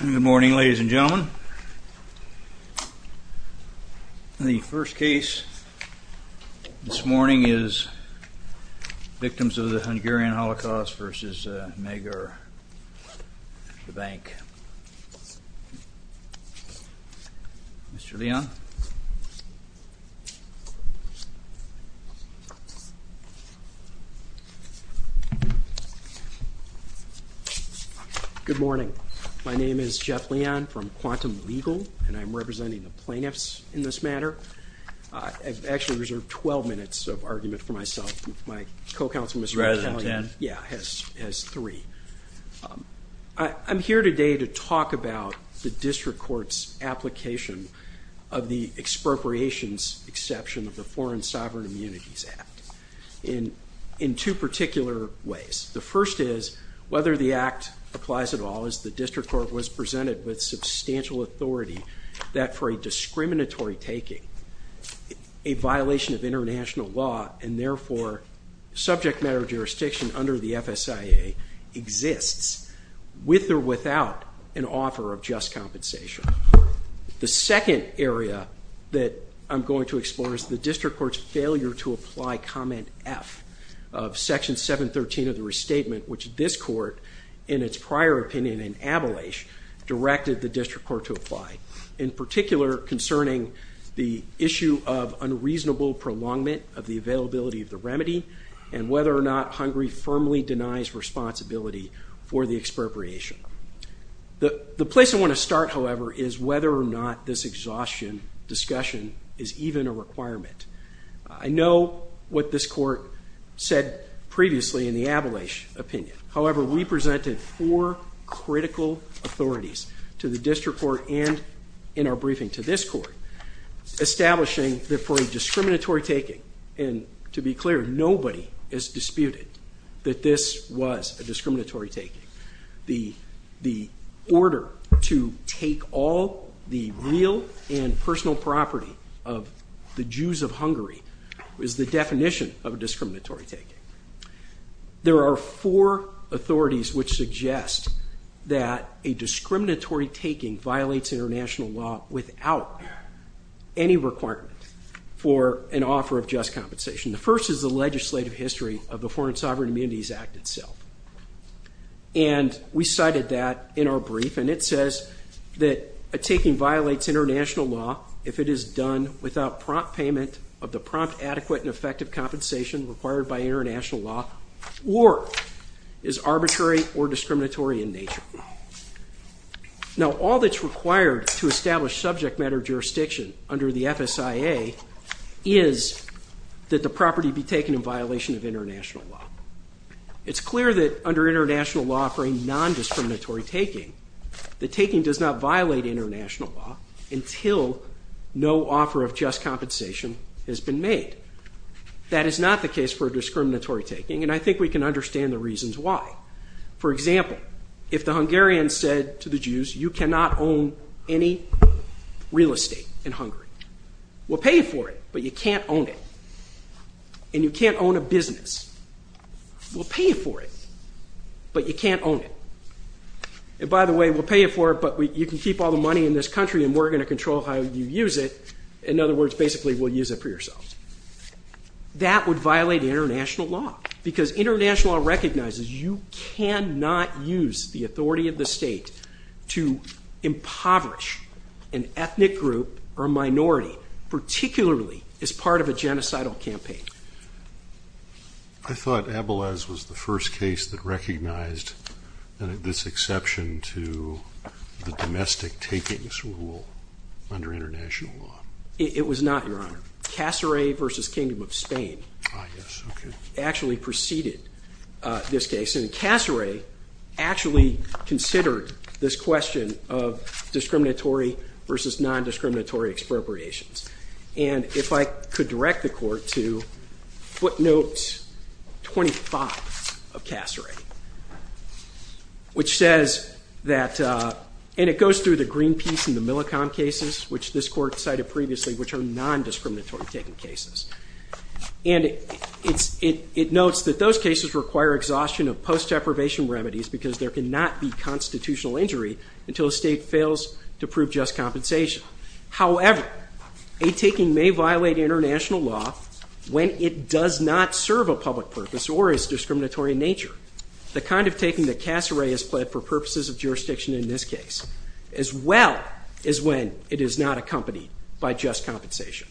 Good morning ladies and gentlemen. The first case this morning is Victims of the Hungarian Holocaust versus Magyar, the Bank. Mr. Leon. Good morning. My name is Jeff Leon from Quantum Legal, and I'm representing the plaintiffs in this matter. I've actually reserved 12 minutes of argument for myself. My co-counsel Mr. Battaglia has three. I'm here today to talk about the district court's application of the expropriations exception of the Foreign Sovereign Immunities Act in two particular ways. The first is whether the act applies at all as the district court was presented with substantial authority that for a discriminatory taking, a violation of international law and therefore subject matter jurisdiction under the FSIA exists with or without an offer of just compensation. The second area that I'm going to explore is the district court's failure to apply comment F of section 713 of the restatement, which this court in its prior opinion in abolish directed the district court to apply, in particular concerning the issue of unreasonable prolongment of the availability of the remedy and whether or not Hungary firmly denies responsibility for the expropriation. The place I want to start, however, is whether or not this exhaustion discussion is even a requirement. I know what this court said previously in the abolish opinion. However, we presented four critical authorities to the district court and in our briefing to this court, establishing that for a discriminatory taking and to be clear, nobody is disputed that this was a discriminatory taking. The real and personal property of the Jews of Hungary is the definition of a discriminatory taking. There are four authorities which suggest that a discriminatory taking violates international law without any requirement for an offer of just compensation. The first is the legislative history of the Foreign Sovereign Immunities Act itself. And we cited that in our brief and it says that a taking violates international law if it is done without prompt payment of the prompt adequate and effective compensation required by international law or is arbitrary or discriminatory in nature. Now, all that's required to establish subject matter jurisdiction under the FSIA is that the property be taken in violation of international law. It's clear that under international law for a non-discriminatory taking, the taking does not violate international law until no offer of just compensation has been made. That is not the case for a discriminatory taking and I think we can understand the reasons why. For example, if the Hungarians said to the Jews, you cannot own any real estate in Hungary. We'll pay for it, but you can't own it. And you can't own a business. We'll pay for it, but you can't own it. And by the way, we'll pay you for it, but you can keep all the money in this country and we're going to control how you use it. In other words, basically we'll use it for yourselves. That would violate international law because international law recognizes you cannot use the authority of the state to impoverish an ethnic group or minority, particularly as part of a genocidal campaign. I thought Abelez was the first case that recognized this exception to the domestic takings rule under international law. It was not, Your Honor. Casseray v. Kingdom of Spain actually preceded this case and Casseray actually considered this question of discriminatory versus non-discriminatory expropriations. And if I could direct the court to footnote 25 of Casseray, which says that, and it goes through the Greenpeace and the Millicom cases, which this court cited previously, which are non-discriminatory taking cases. And it notes that those cases require exhaustion of post-deprivation remedies because there cannot be constitutional injury until a state fails to However, a taking may violate international law when it does not serve a public purpose or is discriminatory in nature. The kind of taking that Casseray has pled for purposes of jurisdiction in this case, as well as when it is not accompanied by just compensation.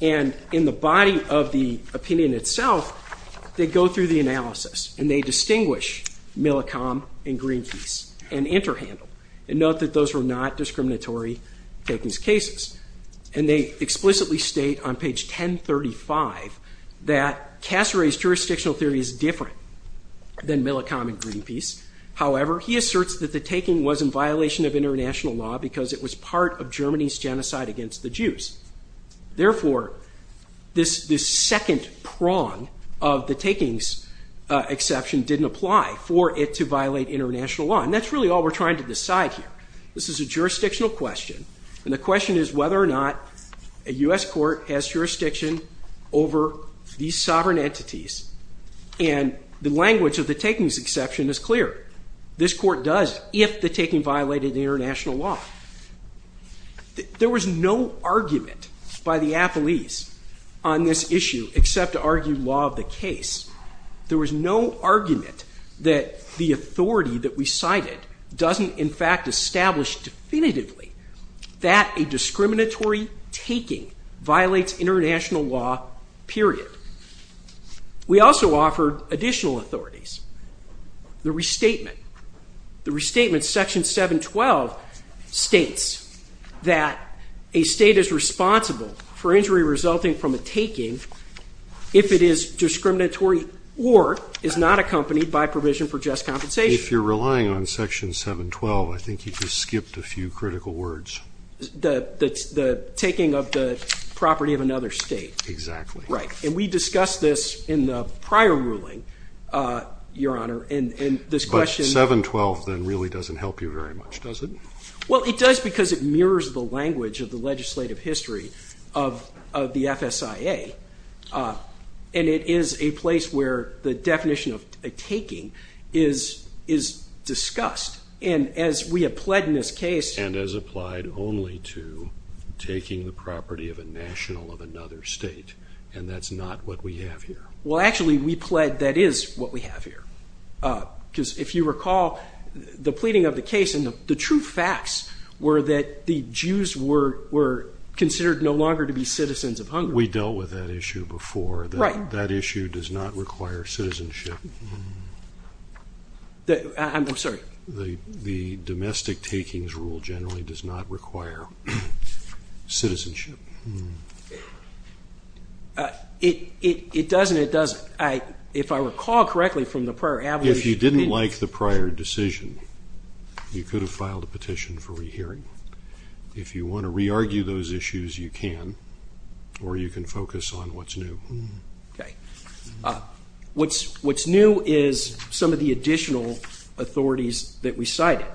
And in the body of the opinion itself, they go through the analysis and they distinguish Millicom and Greenpeace and interhandle. And note that those were not discriminatory takings cases. And they explicitly state on page 1035 that Casseray's jurisdictional theory is different than Millicom and Greenpeace. However, he asserts that the taking was in violation of international law because it was part of Germany's genocide against the Jews. Therefore, this second prong of the takings exception didn't apply for it to violate international law. And that's really all we're trying to decide here. This is a jurisdictional question. And the question is whether or not a U.S. court has jurisdiction over these sovereign entities. And the language of the takings exception is clear. This court does if the taking violated international law. There was no argument by the appellees on this issue except to argue law of the case. There was no argument that the authority that we cited doesn't in fact establish definitively that a discriminatory taking violates international law, period. We also offered additional authorities. The restatement. The restatement section 712 states that a state is responsible for injury resulting from a taking if it is accompanied by provision for just compensation. If you're relying on section 712, I think you just skipped a few critical words. The taking of the property of another state. Exactly. Right. And we discussed this in the prior ruling, Your Honor, and this question. But 712 then really doesn't help you very much, does it? Well, it does because it mirrors the language of the legislative history of the FSIA. And it is a place where the taking is discussed. And as we have pled in this case. And as applied only to taking the property of a national of another state. And that's not what we have here. Well, actually, we pled that is what we have here. Because if you recall, the pleading of the case and the true facts were that the Jews were considered no longer to be citizens of Right. That issue does not require citizenship. I'm sorry. The domestic takings rule generally does not require citizenship. It does and it doesn't. If I recall correctly from the prior abolition. If you didn't like the prior decision, you could have filed a petition for rehearing. If you want to re-argue those issues, you can. Or you can focus on what's new. Okay. What's new is some of the additional authorities that we cited.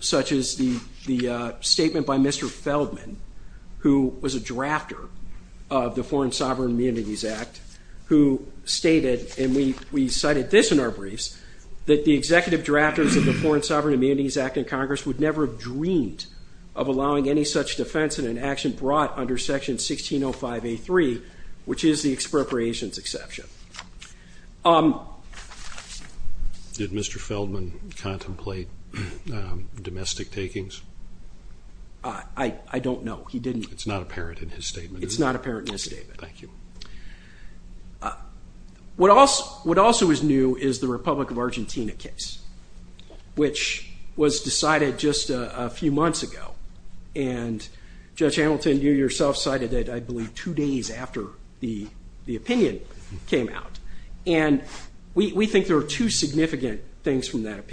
Such as the statement by Mr. Feldman, who was a drafter of the Foreign Sovereign Immunities Act, who stated, and we cited this in our briefs, that the executive drafters of the Foreign Sovereign Immunities Act in Congress would never have dreamed of allowing any such defense in an action brought under Section 1605A3, which is the expropriations exception. Did Mr. Feldman contemplate domestic takings? I don't know. He didn't. It's not apparent in his statement. It's not apparent in his statement. Thank you. What also is new is the Republic of Argentina case, which was decided just a few months ago. And Judge Hamilton, you yourself cited it, I believe, two days after the opinion came out. And we think there are two significant things from that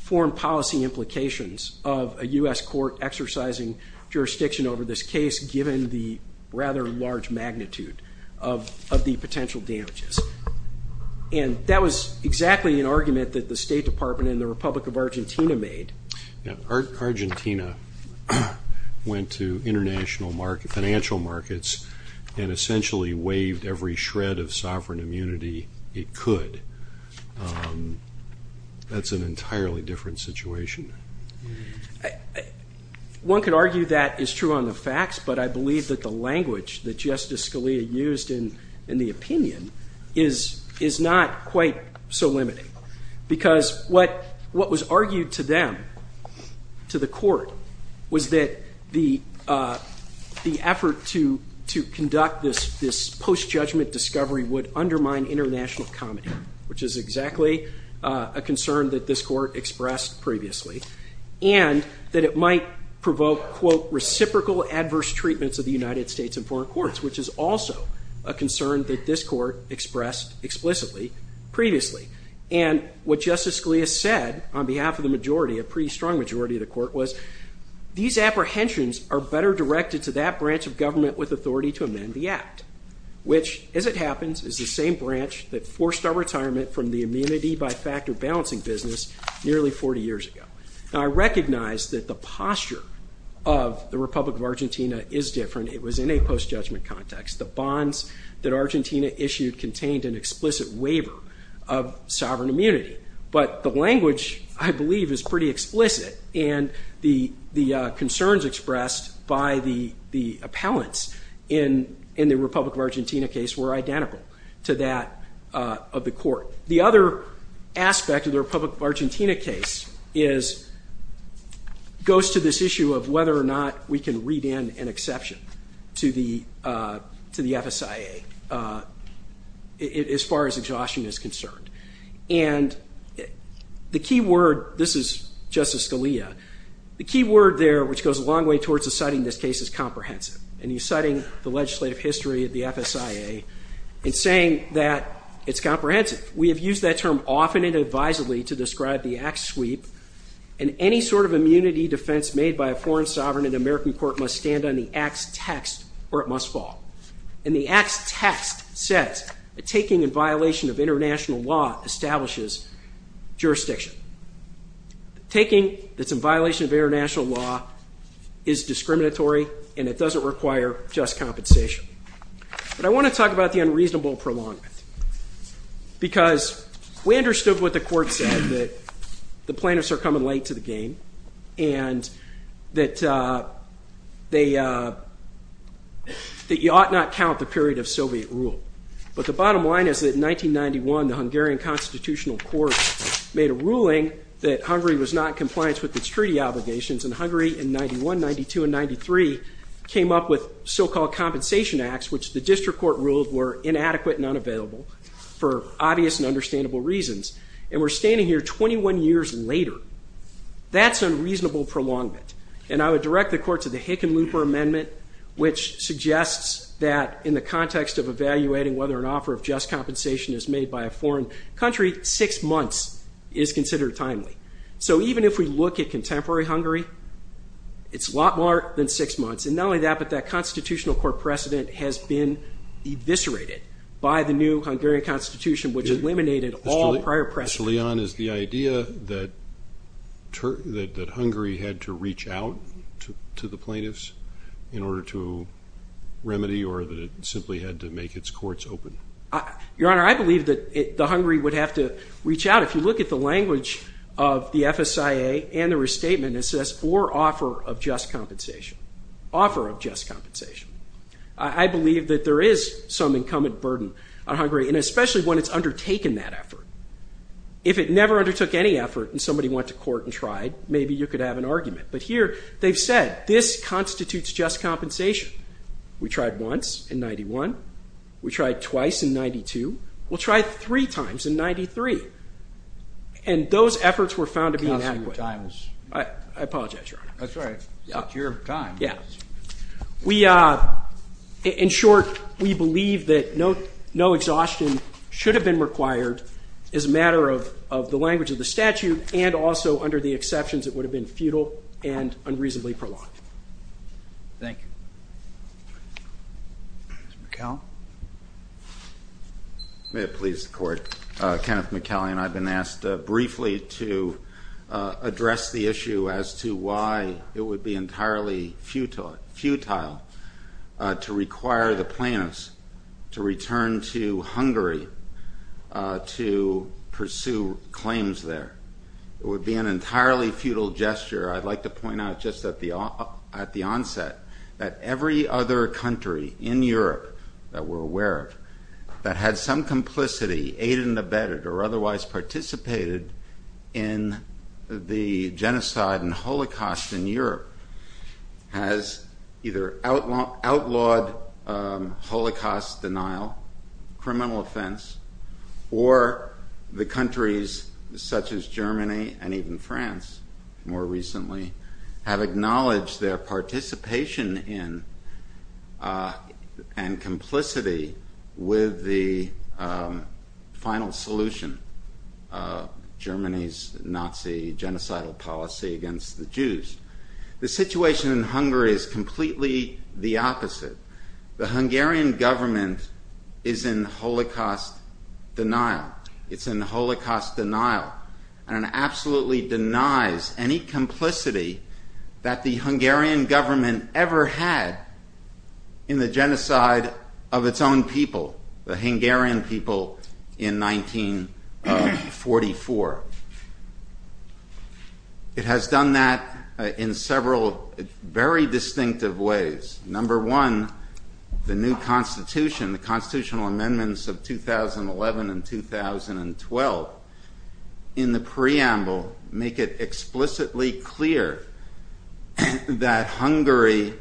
foreign policy implications of a U.S. court exercising jurisdiction over this case, given the rather large magnitude of the potential damages. And that was exactly an argument that the State Department and the Republic of Argentina made. Argentina went to international markets, financial markets, and essentially waived every shred of sovereign immunity it would undermine international comedy, which is exactly a concern that the State Department and the Republic of Argentina have. And I think that's an entirely different situation. One could argue that is true on the facts, but I believe that the language that Justice Scalia used in the opinion is not quite so limiting. Because what was argued to them, to the court, was that the effort to conduct this post-judgment discovery would undermine international comedy, which is exactly a concern that this court expressed previously. And that it might provoke, quote, reciprocal adverse treatments of the United States in foreign courts, which is also a concern that this court expressed explicitly previously. And what Justice Scalia said on behalf of the majority, a pretty strong majority of the court, was these apprehensions are better directed to that branch of government with authority to amend the act, which, as it happens, is the same branch that forced our retirement from the immunity by factor balancing business nearly 40 years ago. Now I recognize that the posture of the Republic of Argentina is different. It was in a post-judgment context. The bonds that Argentina expressed, the concerns expressed by the appellants in the Republic of Argentina case were identical to that of the court. The other aspect of the Republic of Argentina case goes to this issue of whether or not we can read in an exception to the FSIA as far as exhaustion is concerned. The key word there, which goes a long way towards citing this case as comprehensive, and you're citing the legislative history of the FSIA in saying that it's comprehensive. We have used that term often and advisedly to describe the act sweep and any sort of immunity defense made by a foreign sovereign in an American court must stand on the act's text or it must fall. And the act's text says that taking in violation of international law is discriminatory and it doesn't require just compensation. But I want to talk about the unreasonable prolongment because we understood what the court said, that the plaintiffs are coming late to the game and that you ought not count the period of Soviet rule. But the court said that Hungary and 1991, 1992, and 1993 came up with so-called compensation acts, which the district court ruled were inadequate and unavailable for obvious and understandable reasons. And we're standing here 21 years later. That's unreasonable prolongment. And I would direct the court to the Hickenlooper Amendment, which suggests that in the context of evaluating whether an offer of just compensation is made by a foreign country, six months is considered timely. So even if we look at contemporary Hungary, it's a lot more than six months. And not only that, but that constitutional court precedent has been eviscerated by the new Hungarian constitution, which eliminated all prior precedent. So Leon, is the idea that Hungary had to reach out to the plaintiffs in order to remedy or that it simply had to make its courts open? Your Honor, I believe that Hungary would have to reach out. If you look at the language of the FSIA and the restatement, it says, or offer of just compensation. Offer of just compensation. I believe that there is some incumbent burden on Hungary, and especially when it's undertaken that effort. If it never undertook any effort and somebody went to court and tried, maybe you could have an argument. But here, they've said, this constitutes just We'll try three times in 93. And those efforts were found to be inadequate. I apologize, Your Honor. That's right. It's your time. Yeah. In short, we believe that no exhaustion should have been required as a matter of the language of the statute and also under the exceptions that would have been futile and unreasonably prolonged. Thank you. Mr. McCall? May it please the Court. Kenneth McCallion, I've been asked briefly to address the issue as to why it would be entirely futile to require the plaintiffs to return to Hungary to pursue claims there. It would be an entirely futile gesture. I'd like to point out just at the onset that every other country in Europe that we're aware of that had some complicity, aided and abetted, or otherwise participated in the situation in Hungary is completely the opposite. The Hungarian government is in holocaust denial. It's in holocaust denial. And it absolutely denies any that the Hungarian government ever had in the genocide of its own people, the Hungarian people in 1944. It has done that in several very distinctive ways. Number one, the new constitution, the constitutional amendments of 2011 and 2012 in the preamble make it explicitly clear that Hungary,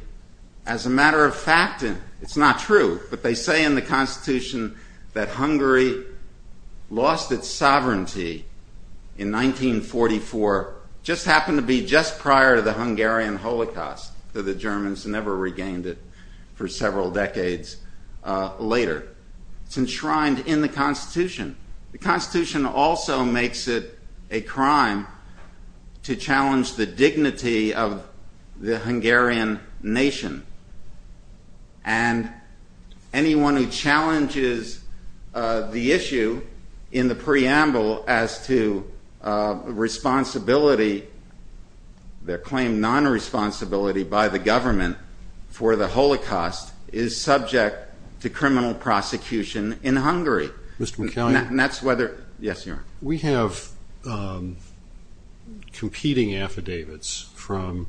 as a matter of fact, it's not true, but they say in the It's enshrined in the constitution. The constitution also makes it a crime to challenge the dignity of the Hungarian nation and anyone who challenges the issue in the preamble as to responsibility, the claimed non-responsibility by the government for the holocaust is subject to criminal prosecution in Hungary. We have competing affidavits from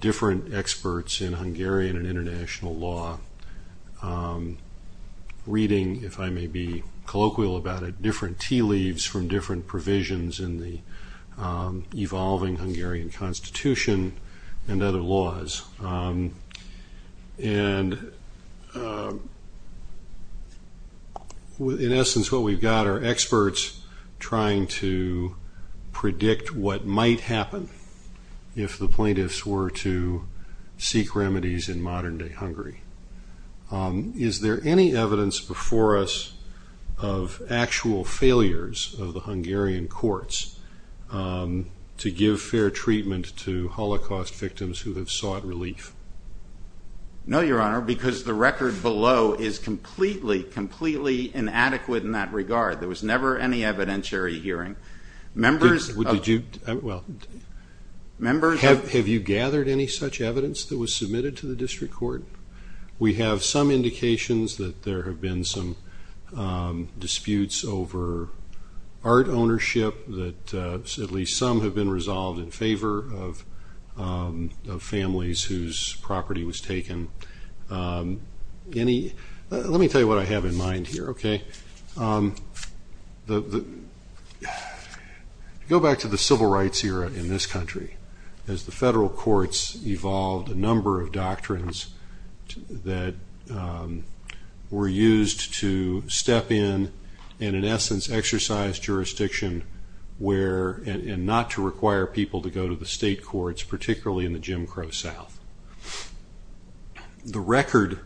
different experts in Hungarian and international law reading, if I may be colloquial about it, different tea leaves from different provisions in the evolving Hungarian constitution and other laws. In essence what we've got are experts trying to predict what might happen if the plaintiffs were to seek remedies in modern day Hungary. Is there any evidence before us of actual failures of the Hungarian courts to give fair treatment to holocaust victims who have sought relief? No, your honor, because the record below is completely, completely inadequate in that regard. There was never any evidentiary hearing. Have you gathered any such evidence that was submitted to the district court? We have some indications that there have been some disputes over art ownership that at least some have been resolved in favor of families whose property was taken. Let me tell you what I have in mind here. Go back to the civil rights era in this country as the federal courts evolved a number of doctrines that were used to step in and in essence exercise jurisdiction and not to require people to go to the state courts, particularly in the Jim Crow South. The record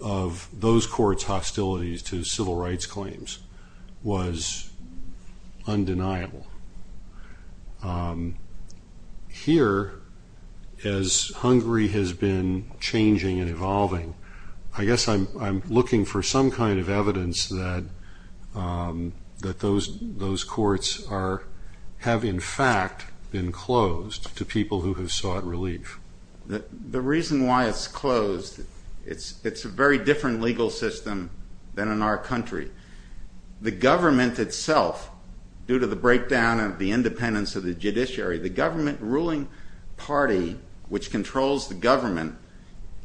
of those courts hostilities to civil rights claims was undeniable. Here, as Hungary has been changing and evolving, I guess I'm looking for some kind of evidence that those courts have in fact been closed to people who have sought relief. The reason why it's closed, it's a very different legal system than in our country. The government itself, due to the breakdown of the independence of the judiciary, the government ruling party, which controls the government,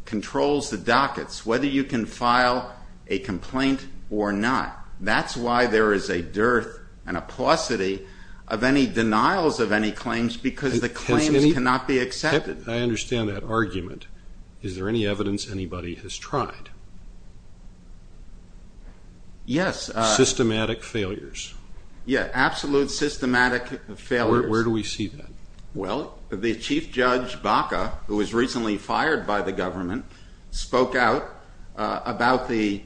controls the dockets, whether you can file a complaint or not. That's why there is a dearth and a paucity of any denials of any claims because the claims cannot be accepted. I understand that argument. Is there any evidence anybody has tried? Yes. Systematic failures. Yes, absolute systematic failures. Where do we see that? Well, the Chief Judge Baca, who was recently fired by the government, spoke out about the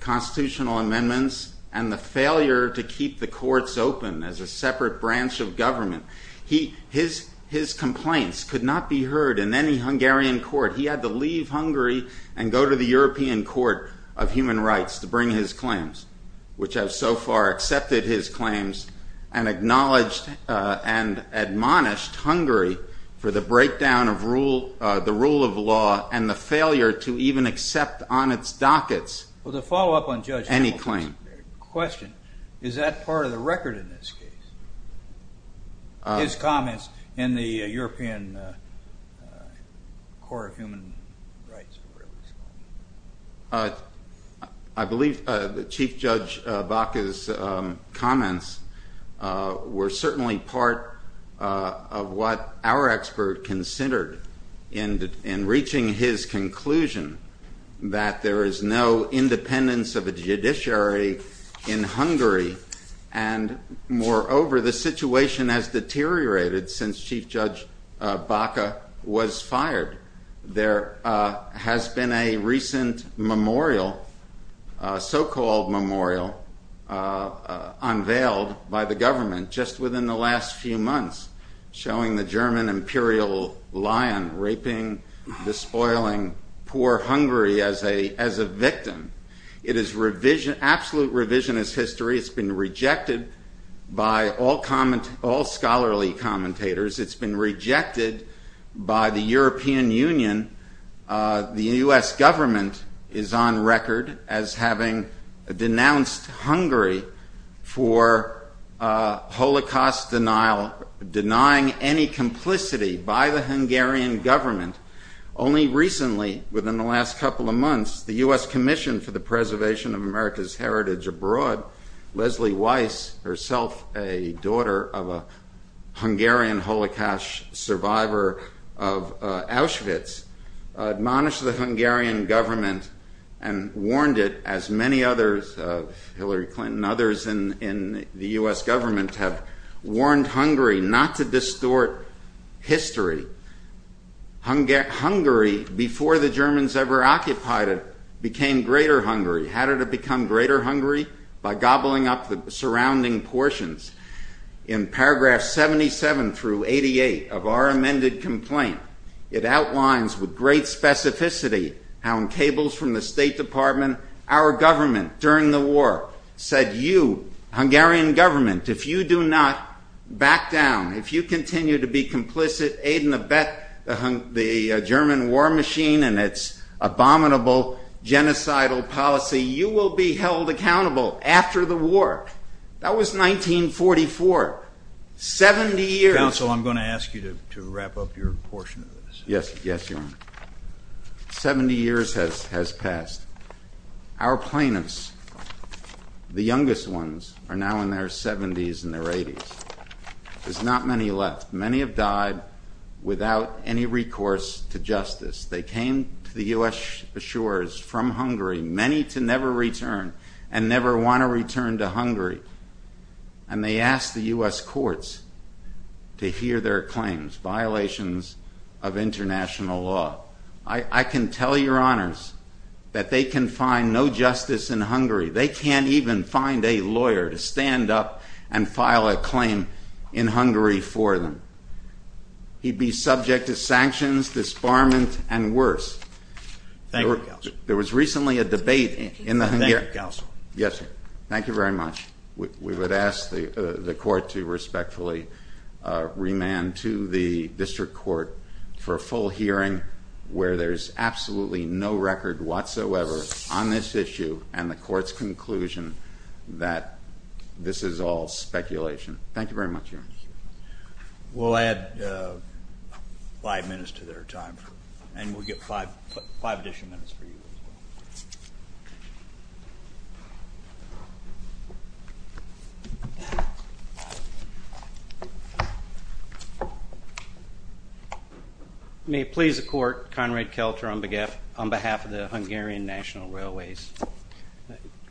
constitutional amendments and the failure to keep the courts open as a separate branch of government. His complaints could not be heard in any Hungarian court. He had to leave Hungary and go to the European Court of Human Rights to bring his claims, which have so far accepted his claims and acknowledged and admonished Hungary for the breakdown of the rule of law and the failure to even accept on its dockets any claim. Well, to follow up on Judge Hamilton's question, is that part of the record in this case? His comments in the European Court of Human Rights. I believe Chief Judge Baca's comments were certainly part of what our expert considered in reaching his conclusion that there is no independence of a judiciary in Hungary. And moreover, the situation has deteriorated since Chief Judge Baca was fired. There has been a recent memorial, so-called memorial, unveiled by the government just within the last few months showing the German imperial lion raping, despoiling poor Hungary as a victim. It is absolute revisionist history. It's been rejected by all scholarly commentators. It's been rejected by the European Union. The U.S. government is on record as having denounced Hungary for Holocaust denial, denying any complicity by the Hungarian government. Only recently, within the last couple of months, the U.S. Commission for the Preservation of America's Heritage Abroad, Leslie Weiss, herself a daughter of a Hungarian Holocaust survivor of Auschwitz, admonished the Hungarian government and warned it, as many others, Hillary Clinton, others in the U.S. government have warned Hungary not to distort history. Hungary, before the Germans ever occupied it, became greater Hungary. How did it become greater Hungary? By gobbling up the surrounding portions. In paragraph 77 through 88 of our amended complaint, it outlines with great specificity how on cables from the State Department, our government during the war said, you, Hungarian government, if you do not back down, if you continue to be complicit, aid and abet the German war machine and its abominable, genocidal policy, you will be held accountable after the war. That was 1944. Seventy years. Counsel, I'm going to ask you to wrap up your portion of this. Yes, Your Honor. Seventy years has passed. Our plaintiffs, the youngest ones, are now in their seventies and their eighties. There's not many left. Many have died without any recourse to justice. They came to the U.S. shores from Hungary, many to never return and never want to return to Hungary. And they asked the U.S. courts to hear their claims, violations of international law. I can tell your honors that they can find no justice in Hungary. They can't even find a lawyer to stand up and file a claim in Hungary for them. He'd be subject to sanctions, disbarment, and worse. Thank you, Counsel. There was recently a debate in the Hungarian- Thank you, Counsel. Yes, sir. Thank you very much. We would ask the court to respectfully remand to the district court for a full hearing where there's absolutely no record whatsoever on this issue and the court's conclusion that this is all speculation. Thank you very much, Your Honor. We'll add five minutes to their time and we'll get five additional minutes for you as well. May it please the court, Conrad Kelter on behalf of the Hungarian National Railways.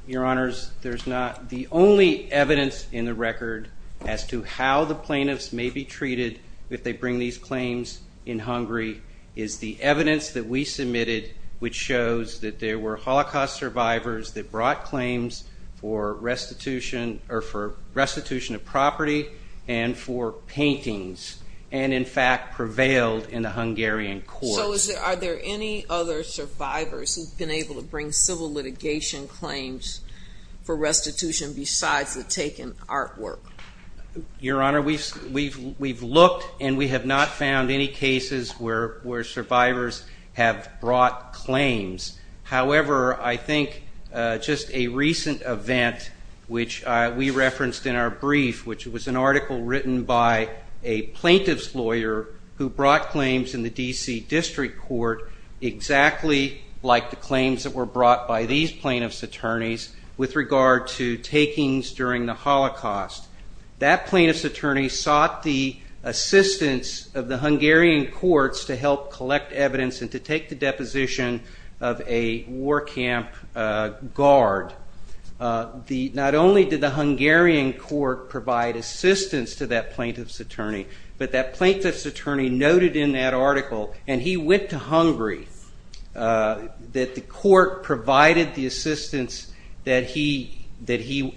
Your honors, there's not- the only evidence in the record as to how the plaintiffs may be treated if they bring these claims in Hungary is the evidence that we submitted which shows that there were Holocaust survivors that brought claims for restitution of property and for paintings and in fact prevailed in the Hungarian courts. So are there any other survivors who've been able to bring civil litigation claims for restitution besides the taken artwork? Your Honor, we've looked and we have not found any cases where survivors have brought claims. However, I think just a recent event which we referenced in our brief, which was an article written by a plaintiff's lawyer who brought claims in the D.C. District Court exactly like the claims that were brought by these plaintiff's attorneys with regard to takings during the Holocaust. That plaintiff's attorney sought the assistance of the Hungarian courts to help collect evidence and to take the deposition of a war camp guard. Not only did the Hungarian court provide assistance to that plaintiff's attorney, but that plaintiff's attorney noted in that article, and he went to Hungary, that the court provided the assistance that he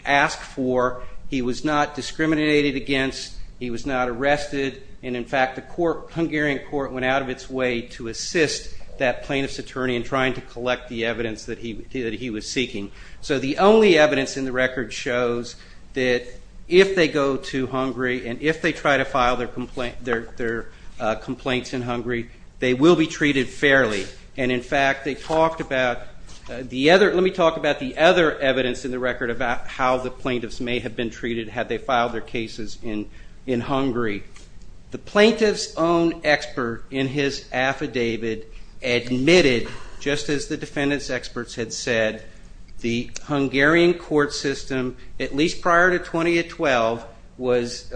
asked for. He was not discriminated against, he was not arrested, and in fact the Hungarian court went out of its way to assist that plaintiff's attorney in trying to collect the evidence that he was seeking. So the only evidence in the record shows that if they go to Hungary and if they try to file their complaints in Hungary, they will be treated fairly. Let me talk about the other evidence in the record about how the plaintiffs may have been treated had they filed their cases in Hungary. The plaintiff's own expert in his affidavit admitted, just as the defendant's experts had said, the Hungarian court system, at least prior to 2012, was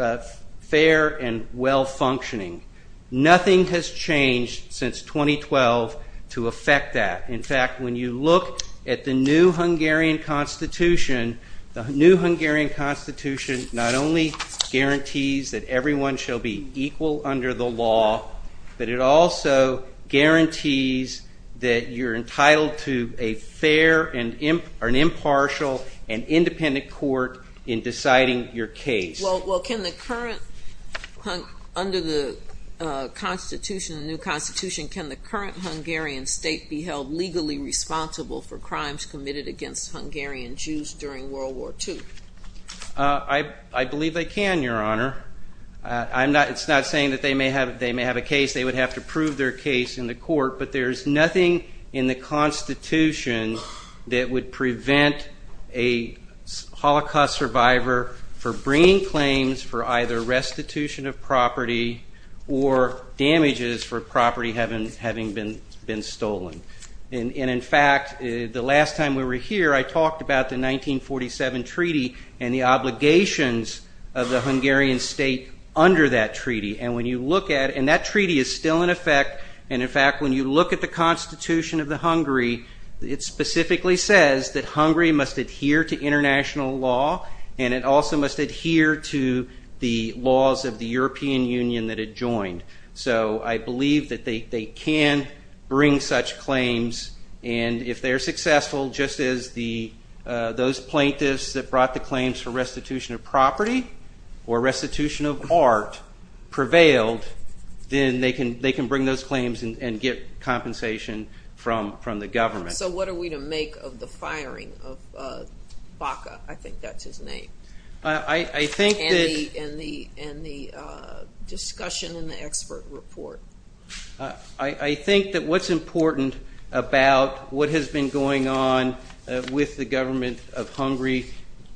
fair and well-functioning. Nothing has changed since 2012 to affect that. In fact, when you look at the new Hungarian constitution, the new Hungarian constitution not only guarantees that everyone shall be equal under the law, but it also guarantees that you're entitled to a fair and impartial and independent court in deciding your case. Well, can the current, under the new constitution, can the current Hungarian state be held legally responsible for crimes committed against Hungarian Jews during World War II? I believe they can, Your Honor. It's not saying that they may have a case. They would have to prove their case in the court, but there's nothing in the constitution that would prevent a Holocaust survivor from bringing claims to the court. There would be no claims for either restitution of property or damages for property having been stolen. And in fact, the last time we were here, I talked about the 1947 treaty and the obligations of the Hungarian state under that treaty. And when you look at it, and that treaty is still in effect, and in fact, when you look at the constitution of the Hungary, it specifically says that Hungary must adhere to international law, and it also must adhere to international law. It must adhere to the laws of the European Union that it joined. So I believe that they can bring such claims, and if they're successful, just as those plaintiffs that brought the claims for restitution of property or restitution of art prevailed, then they can bring those claims and get compensation from the government. So what are we to make of the firing of Baca? I think that's his name. And the discussion in the expert report. I think that what's important about what has been going on with the government of Hungary,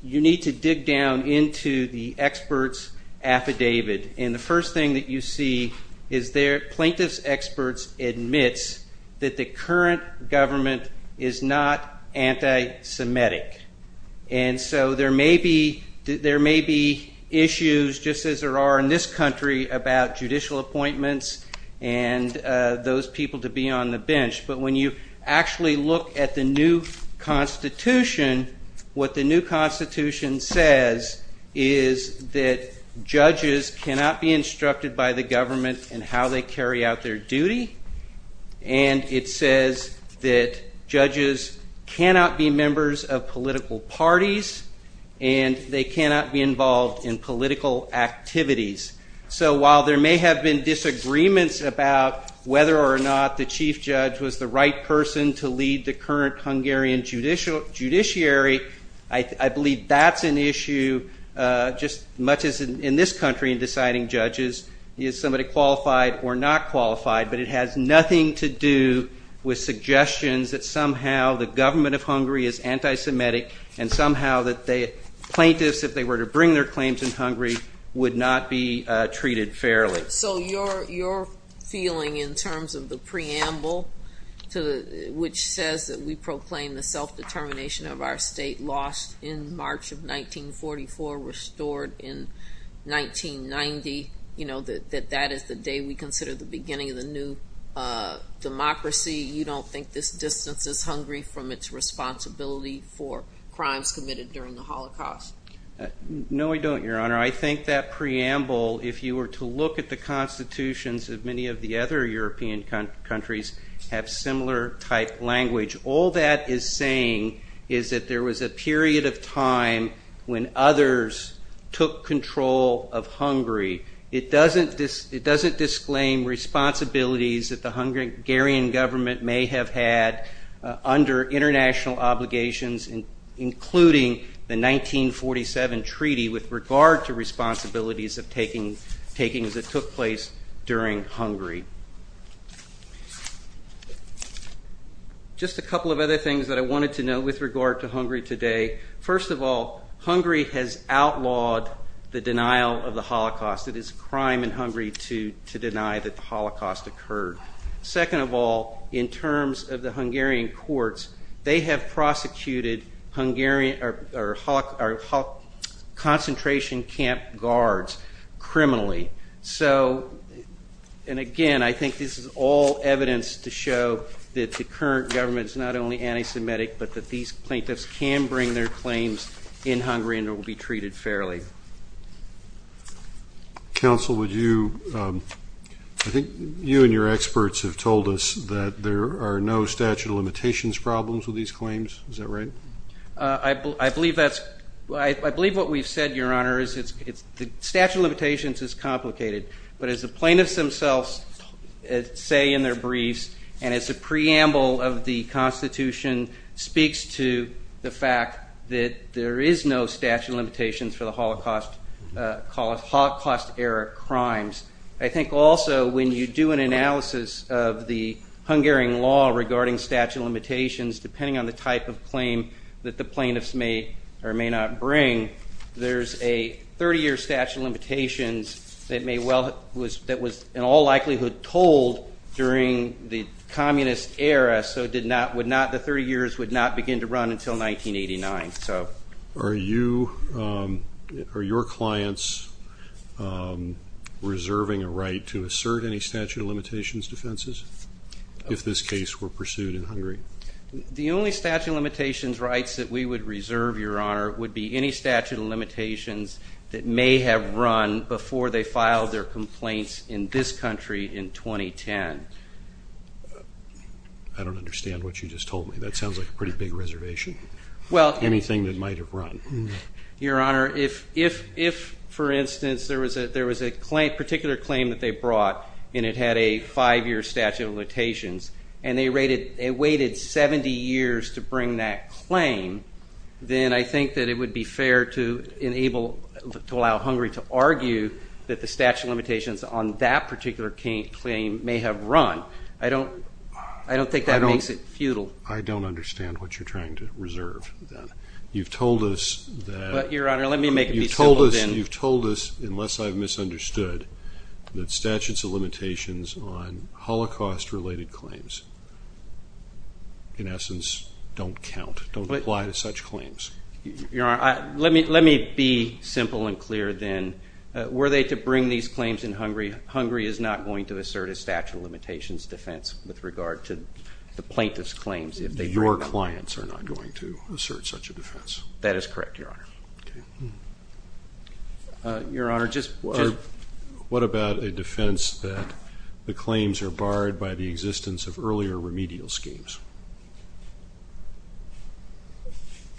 you need to dig down into the experts' affidavit, and the first thing that you see is their plaintiff's experts admits that the current government is not anti-Semitic. And so there may be issues, just as there are in this country, about judicial appointments and those people to be on the bench, but when you actually look at the new constitution, what the new constitution says is that judges cannot be instructed by the government in how they carry out their duty, and it says that judges cannot be members of political parties. And they cannot be involved in political activities. So while there may have been disagreements about whether or not the chief judge was the right person to lead the current Hungarian judiciary, I believe that's an issue, just as much as in this country in deciding judges, is somebody qualified or not qualified, but it has nothing to do with suggestions that somehow the government of Hungary is anti-Semitic. And somehow plaintiffs, if they were to bring their claims in Hungary, would not be treated fairly. So your feeling in terms of the preamble, which says that we proclaim the self-determination of our state lost in March of 1944, restored in 1990, that that is the day we consider the beginning of the new democracy, you don't think this distance is Hungary from its responsibility for Hungary? No, I don't, Your Honor. I think that preamble, if you were to look at the constitutions of many of the other European countries, have similar type language. All that is saying is that there was a period of time when others took control of Hungary. It doesn't disclaim responsibilities that the Hungarian government may have had under international obligations, including the 1947 treaty with regard to responsibilities of takings that took place during Hungary. Just a couple of other things that I wanted to note with regard to Hungary today. First of all, Hungary has outlawed the denial of the Holocaust. It is a crime in Hungary to deny that the Holocaust occurred. Second of all, in terms of the Hungarian courts, they have prosecuted Hungarian judges. They have prosecuted Hungarian concentration camp guards criminally. So, and again, I think this is all evidence to show that the current government is not only anti-Semitic, but that these plaintiffs can bring their claims in Hungary and will be treated fairly. Counsel, would you, I think you and your experts have told us that there are no statute of limitations problems with these claims. Is that right? I believe that's, I believe what we've said, Your Honor, is that the statute of limitations is complicated. But as the plaintiffs themselves say in their briefs, and as the preamble of the constitution speaks to the fact that there is no statute of limitations for the Holocaust era crimes. I think also when you do an analysis of the Hungarian law regarding statute of limitations, depending on the type of claim that the plaintiffs make, it's a little bit more complicated. But as the plaintiffs may or may not bring, there's a 30-year statute of limitations that may well, that was in all likelihood told during the communist era, so it did not, would not, the 30 years would not begin to run until 1989. So. Are you, are your clients reserving a right to assert any statute of limitations defenses if this case were pursued in Hungary? The only statute of limitations rights that we would reserve, Your Honor, would be any statute of limitations that may have run before they filed their complaints in this country in 2010. I don't understand what you just told me. That sounds like a pretty big reservation. Your Honor, if, for instance, there was a particular claim that they brought and it had a five-year statute of limitations, and they waited 70 years to bring that claim, then I think that it would be fair to allow Hungary to argue that the statute of limitations on that particular claim may have run. I don't think that makes it futile. Well, I don't understand what you're trying to reserve, then. You've told us that. But, Your Honor, let me make it be simple, then. You've told us, unless I've misunderstood, that statutes of limitations on Holocaust-related claims, in essence, don't count, don't apply to such claims. Your Honor, let me be simple and clear, then. Were they to bring these claims in Hungary, Hungary is not going to assert a statute of limitations defense with regard to the plaintiffs' claims. Your clients are not going to assert such a defense. That is correct, Your Honor. What about a defense that the claims are barred by the existence of earlier remedial schemes?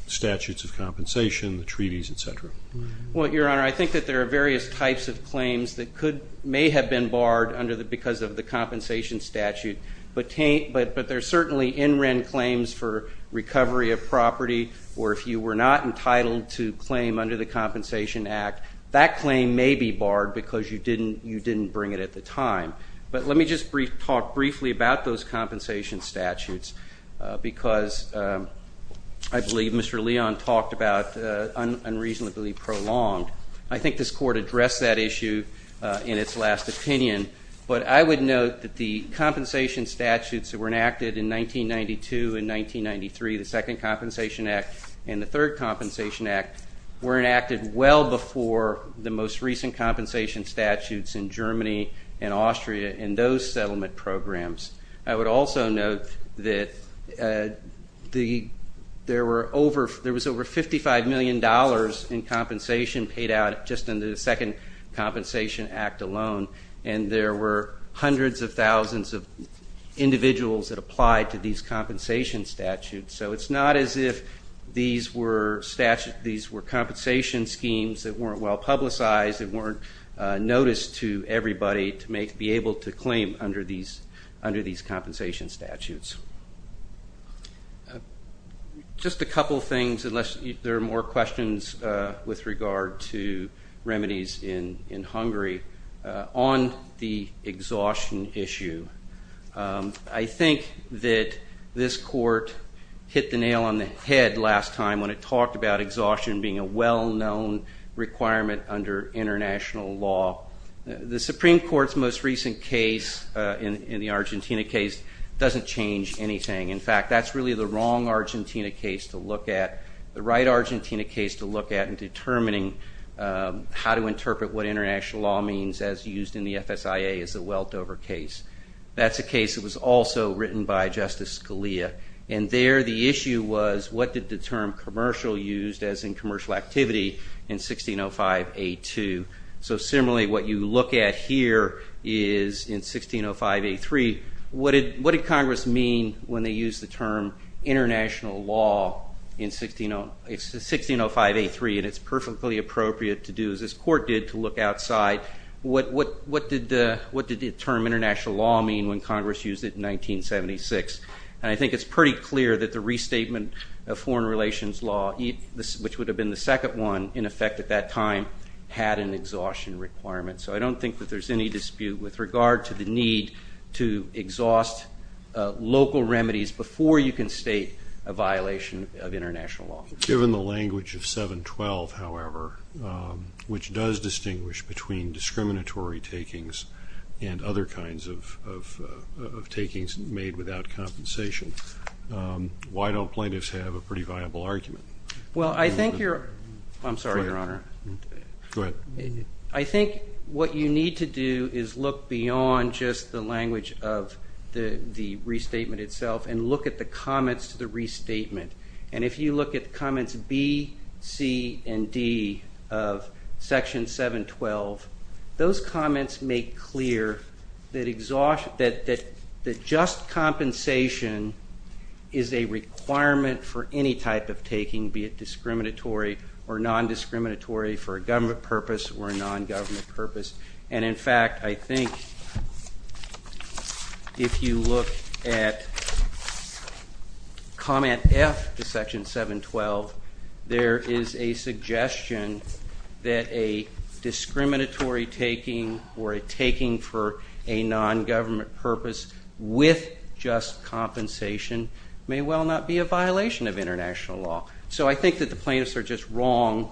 Statutes of compensation, the treaties, etc. Well, Your Honor, I think that there are various types of claims that may have been barred because of the compensation statute, but there are certainly in-written claims for recovery of property, or if you were not entitled to claim under the Compensation Act, that claim may be barred because you didn't bring it at the time. But let me just talk briefly about those compensation statutes, because I believe Mr. Leon talked about unreasonably prolonged. I think this Court addressed that issue in its last opinion, but I would note that the compensation statutes that were enacted in 1992 and 1993, the Second Compensation Act and the Third Compensation Act, were enacted well before the most recent compensation statutes in Germany and Austria in those settlement programs. I would also note that there was over $55 million in compensation paid out just in the Second Compensation Act alone, and there were hundreds of thousands of individuals that applied to these compensation statutes. So it's not as if these were compensation schemes that weren't well publicized, that weren't noticed to everybody to be able to claim under these compensation statutes. Just a couple of things, unless there are more questions with regard to remedies in Hungary. On the exhaustion issue, I think that this Court hit the nail on the head last time when it talked about exhaustion being a well-known requirement under international law. The Supreme Court's most recent case in the Argentina case doesn't change anything. In fact, that's really the wrong Argentina case to look at, the right Argentina case to look at in determining how to interpret what international law means as used in the FSIA as a weltover case. That's a case that was also written by Justice Scalia, and there the issue was what did the term commercial used as in commercial activity in 1605A2. So similarly, what you look at here is in 1605A3, what did Congress mean when they used the term international law in 1605A3, and it's perfectly appropriate to do, as this Court did, to look outside what did the term international law mean when Congress used it in which would have been the second one in effect at that time had an exhaustion requirement. So I don't think that there's any dispute with regard to the need to exhaust local remedies before you can state a violation of international law. Given the language of 712, however, which does distinguish between discriminatory takings and other kinds of takings made without compensation, why don't plaintiffs have a pretty viable argument? Well, I think you're... I'm sorry, Your Honor. Go ahead. I think what you need to do is look beyond just the language of the restatement itself and look at the comments to the restatement, and if you look at comments B, C, and D of section 712, those compensation is a requirement for any type of taking, be it discriminatory or non-discriminatory for a government purpose or a non-government purpose. And in fact, I think if you look at comment F to section 712, there is a suggestion that a discriminatory taking or a taking for a non-government purpose with just compensation may well not be a violation of international law. So I think that the plaintiffs are just wrong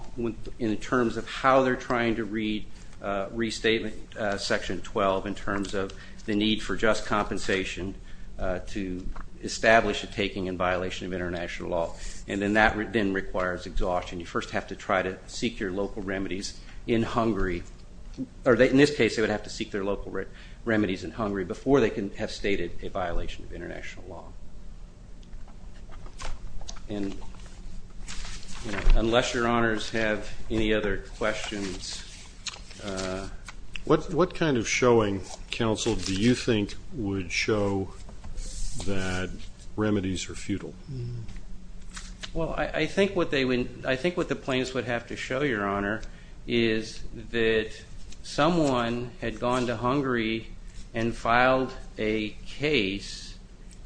in terms of how they're trying to read restatement section 12 in terms of the need for just compensation to establish a taking in violation of international law. And then that then requires exhaustion. You first have to try to seek your local remedies in Hungary. In this case, they would have to seek their local remedies in Hungary before they can have stated a violation of international law. Unless Your Honors have any other questions... What kind of showing, counsel, do you think would show that remedies are futile? Well, I think what the plaintiffs would have to show, Your Honor, is that someone had gone to Hungary and filed a case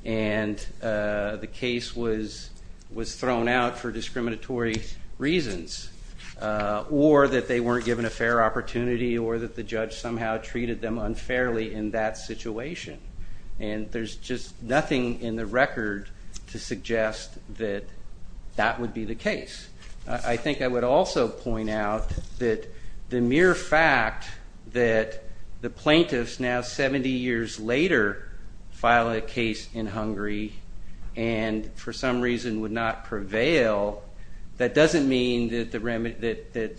and the case was thrown out for discriminatory reasons or that they weren't given a fair opportunity or that the judge somehow treated them unfairly in that situation. And there's just nothing in the record to suggest that that would be the case. I think I would also point out that the mere fact that the plaintiffs now 70 years later file a case in Hungary and for some reason would not prevail, that doesn't mean that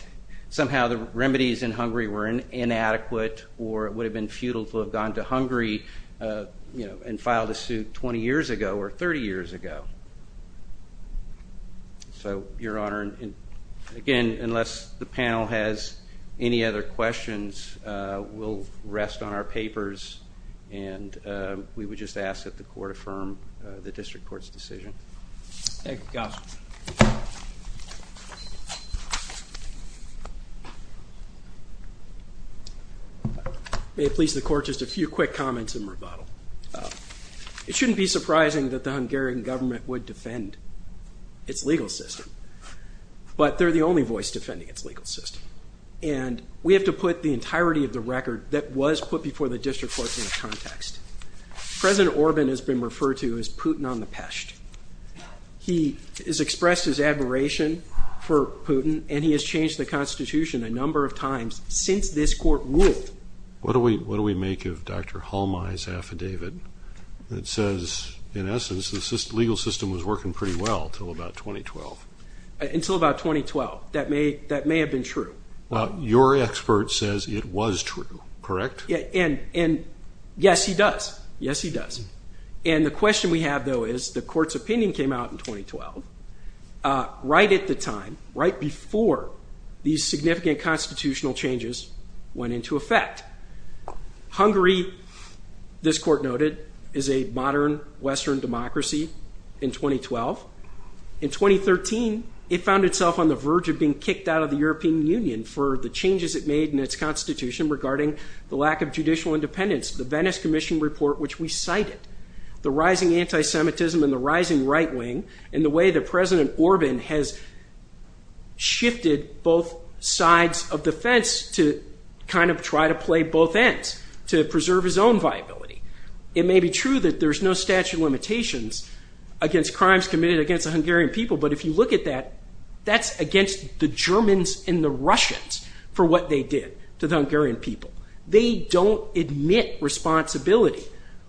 somehow the remedies in Hungary were inadequate or it would have been futile to have gone to Hungary and filed a suit 20 years ago or 30 years ago. So, Your Honor, again, unless the panel has any other questions, we'll rest on our papers and we would just ask that the Court affirm the District Court's decision. May it please the Court, just a few quick comments in rebuttal. It shouldn't be surprising that the Hungarian government would defend its legal system, but they're the only voice defending its legal system. And we have to put the name of Putin on the pesht. He has expressed his admiration for Putin and he has changed the Constitution a number of times since this Court ruled. What do we make of Dr. Halmai's affidavit that says in essence the legal system was working pretty well until about 2012? Until about 2012. That may have been true. Your expert says it was true, correct? Yes, he does. The question we have, though, is the Court's opinion came out in 2012 right at the time, right before these significant constitutional changes went into effect. Hungary, this Court noted, is a modern Western democracy in 2012. In 2013, it found in the Venice Commission report, which we cited, the rising anti-Semitism and the rising right wing and the way that President Orban has shifted both sides of the fence to kind of try to play both ends to preserve his own viability. It may be true that there's no statute of limitations against crimes committed against the Hungarian people, but if you look at that, that's against the Germans and the Russians for what they did to the Hungarian people. They don't admit responsibility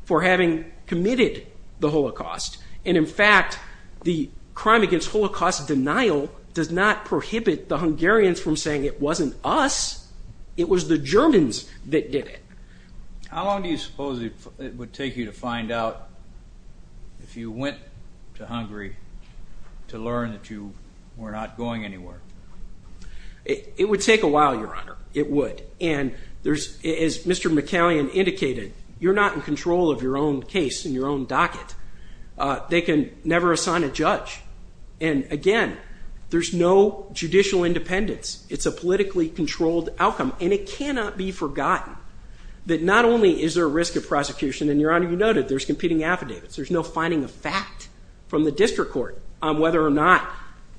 for having committed the Holocaust, and in fact, the crime against Holocaust denial does not prohibit the Hungarians from saying it wasn't us, it was the Germans that did it. How long do you suppose it would take you to find out if you went to Hungary to learn that you were not going anywhere? It would take a while, Your Honor. It would. As Mr. McCallion indicated, you're not in control of your own case and your own docket. They can never assign a judge, and again, there's no judicial independence. It's a politically controlled outcome, and it cannot be forgotten that not only is there a risk of prosecution, and Your Honor, you noted there's competing affidavits. There's no finding of fact from the district court on whether or not,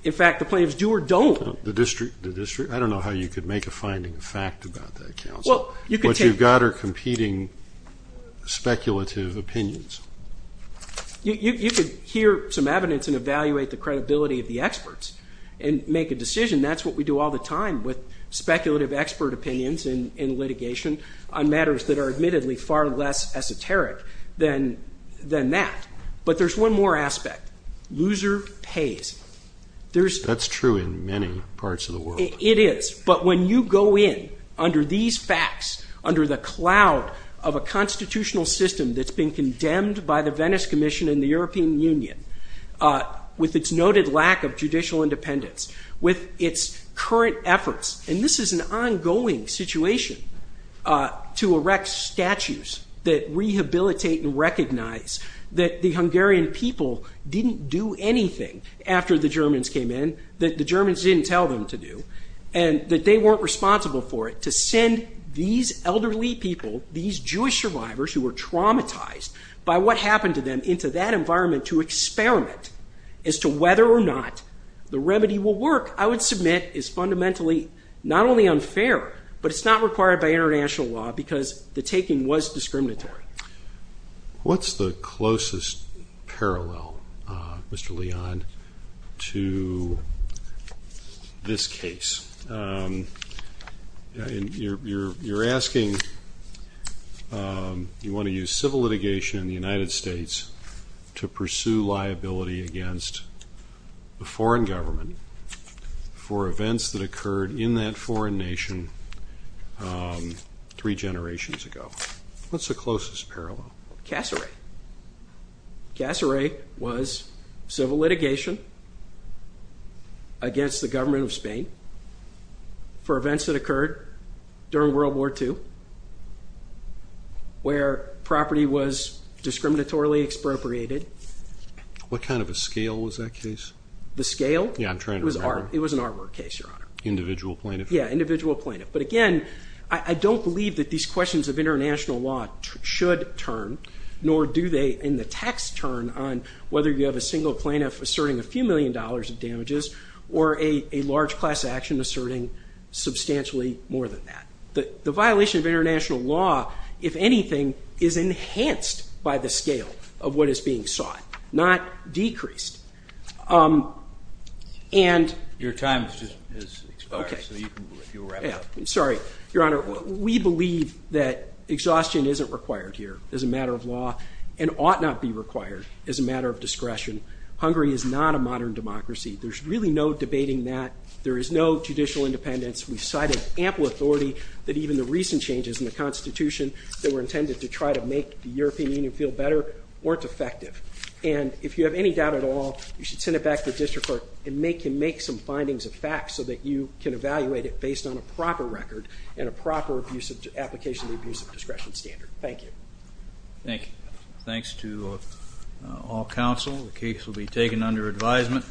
in fact, the plaintiffs do or don't. I don't know how you could make a finding of fact about that, counsel. What you've got are competing speculative opinions. You could hear some evidence and evaluate the credibility of the experts and make a decision. That's what we do all the time with speculative expert opinions in litigation on matters that are admittedly far less esoteric than that, but there's one more aspect. Loser pays. That's true in many parts of the world. It is, but when you go in under these facts, under the cloud of a constitutional system that's been condemned by the Venice Commission and the European Union, with its noted lack of judicial independence, with its current efforts, and this is an ongoing situation, to erect statues that rehabilitate and recognize that the Hungarian people didn't do anything after the Germans came in, that the Germans didn't tell them to do, and that they weren't responsible for it, to send these elderly people, these Jewish survivors who were traumatized by what happened to them, into that environment to experiment as to whether or not the remedy will work, I would submit is fundamentally not only unfair, but it's not required by international law because the taking was discriminatory. What's the closest parallel, Mr. Leon, to this case? You're asking, you want to use civil litigation in the United States to pursue liability against the foreign government for events that occurred in that foreign nation three generations ago. What's the closest parallel? Cassaray. Cassaray was civil litigation against the government of Spain for events that occurred during World War II, where property was discriminatorily expropriated. What kind of a scale was that case? The scale? Yeah, I'm trying to remember. It was an artwork case, Your Honor. Individual plaintiff? Yeah, individual plaintiff. But again, I don't believe that these questions of international law should turn, nor do they in the text turn on whether you have a single plaintiff asserting a few million dollars in damages or a large class action asserting substantially more than that. The violation of international law, if anything, is enhanced by the scale of what is being sought, not decreased. Your time has just expired, so you can wrap up. I'm sorry. Your Honor, we believe that exhaustion isn't required here as a matter of law and ought not be required as a matter of discretion. Hungary is not a modern democracy. There's really no debating that. There is no judicial independence. We've cited ample authority that even the recent changes in the Constitution that were intended to try to make the European Union feel better weren't effective. And if you have any doubt at all, you should send it back to the District Court and make some findings of fact so that you can evaluate it based on a proper record and a proper application of the Abusive Discretion Standard. Thank you. Thank you. Thanks to all counsel. The case will be taken under advisement.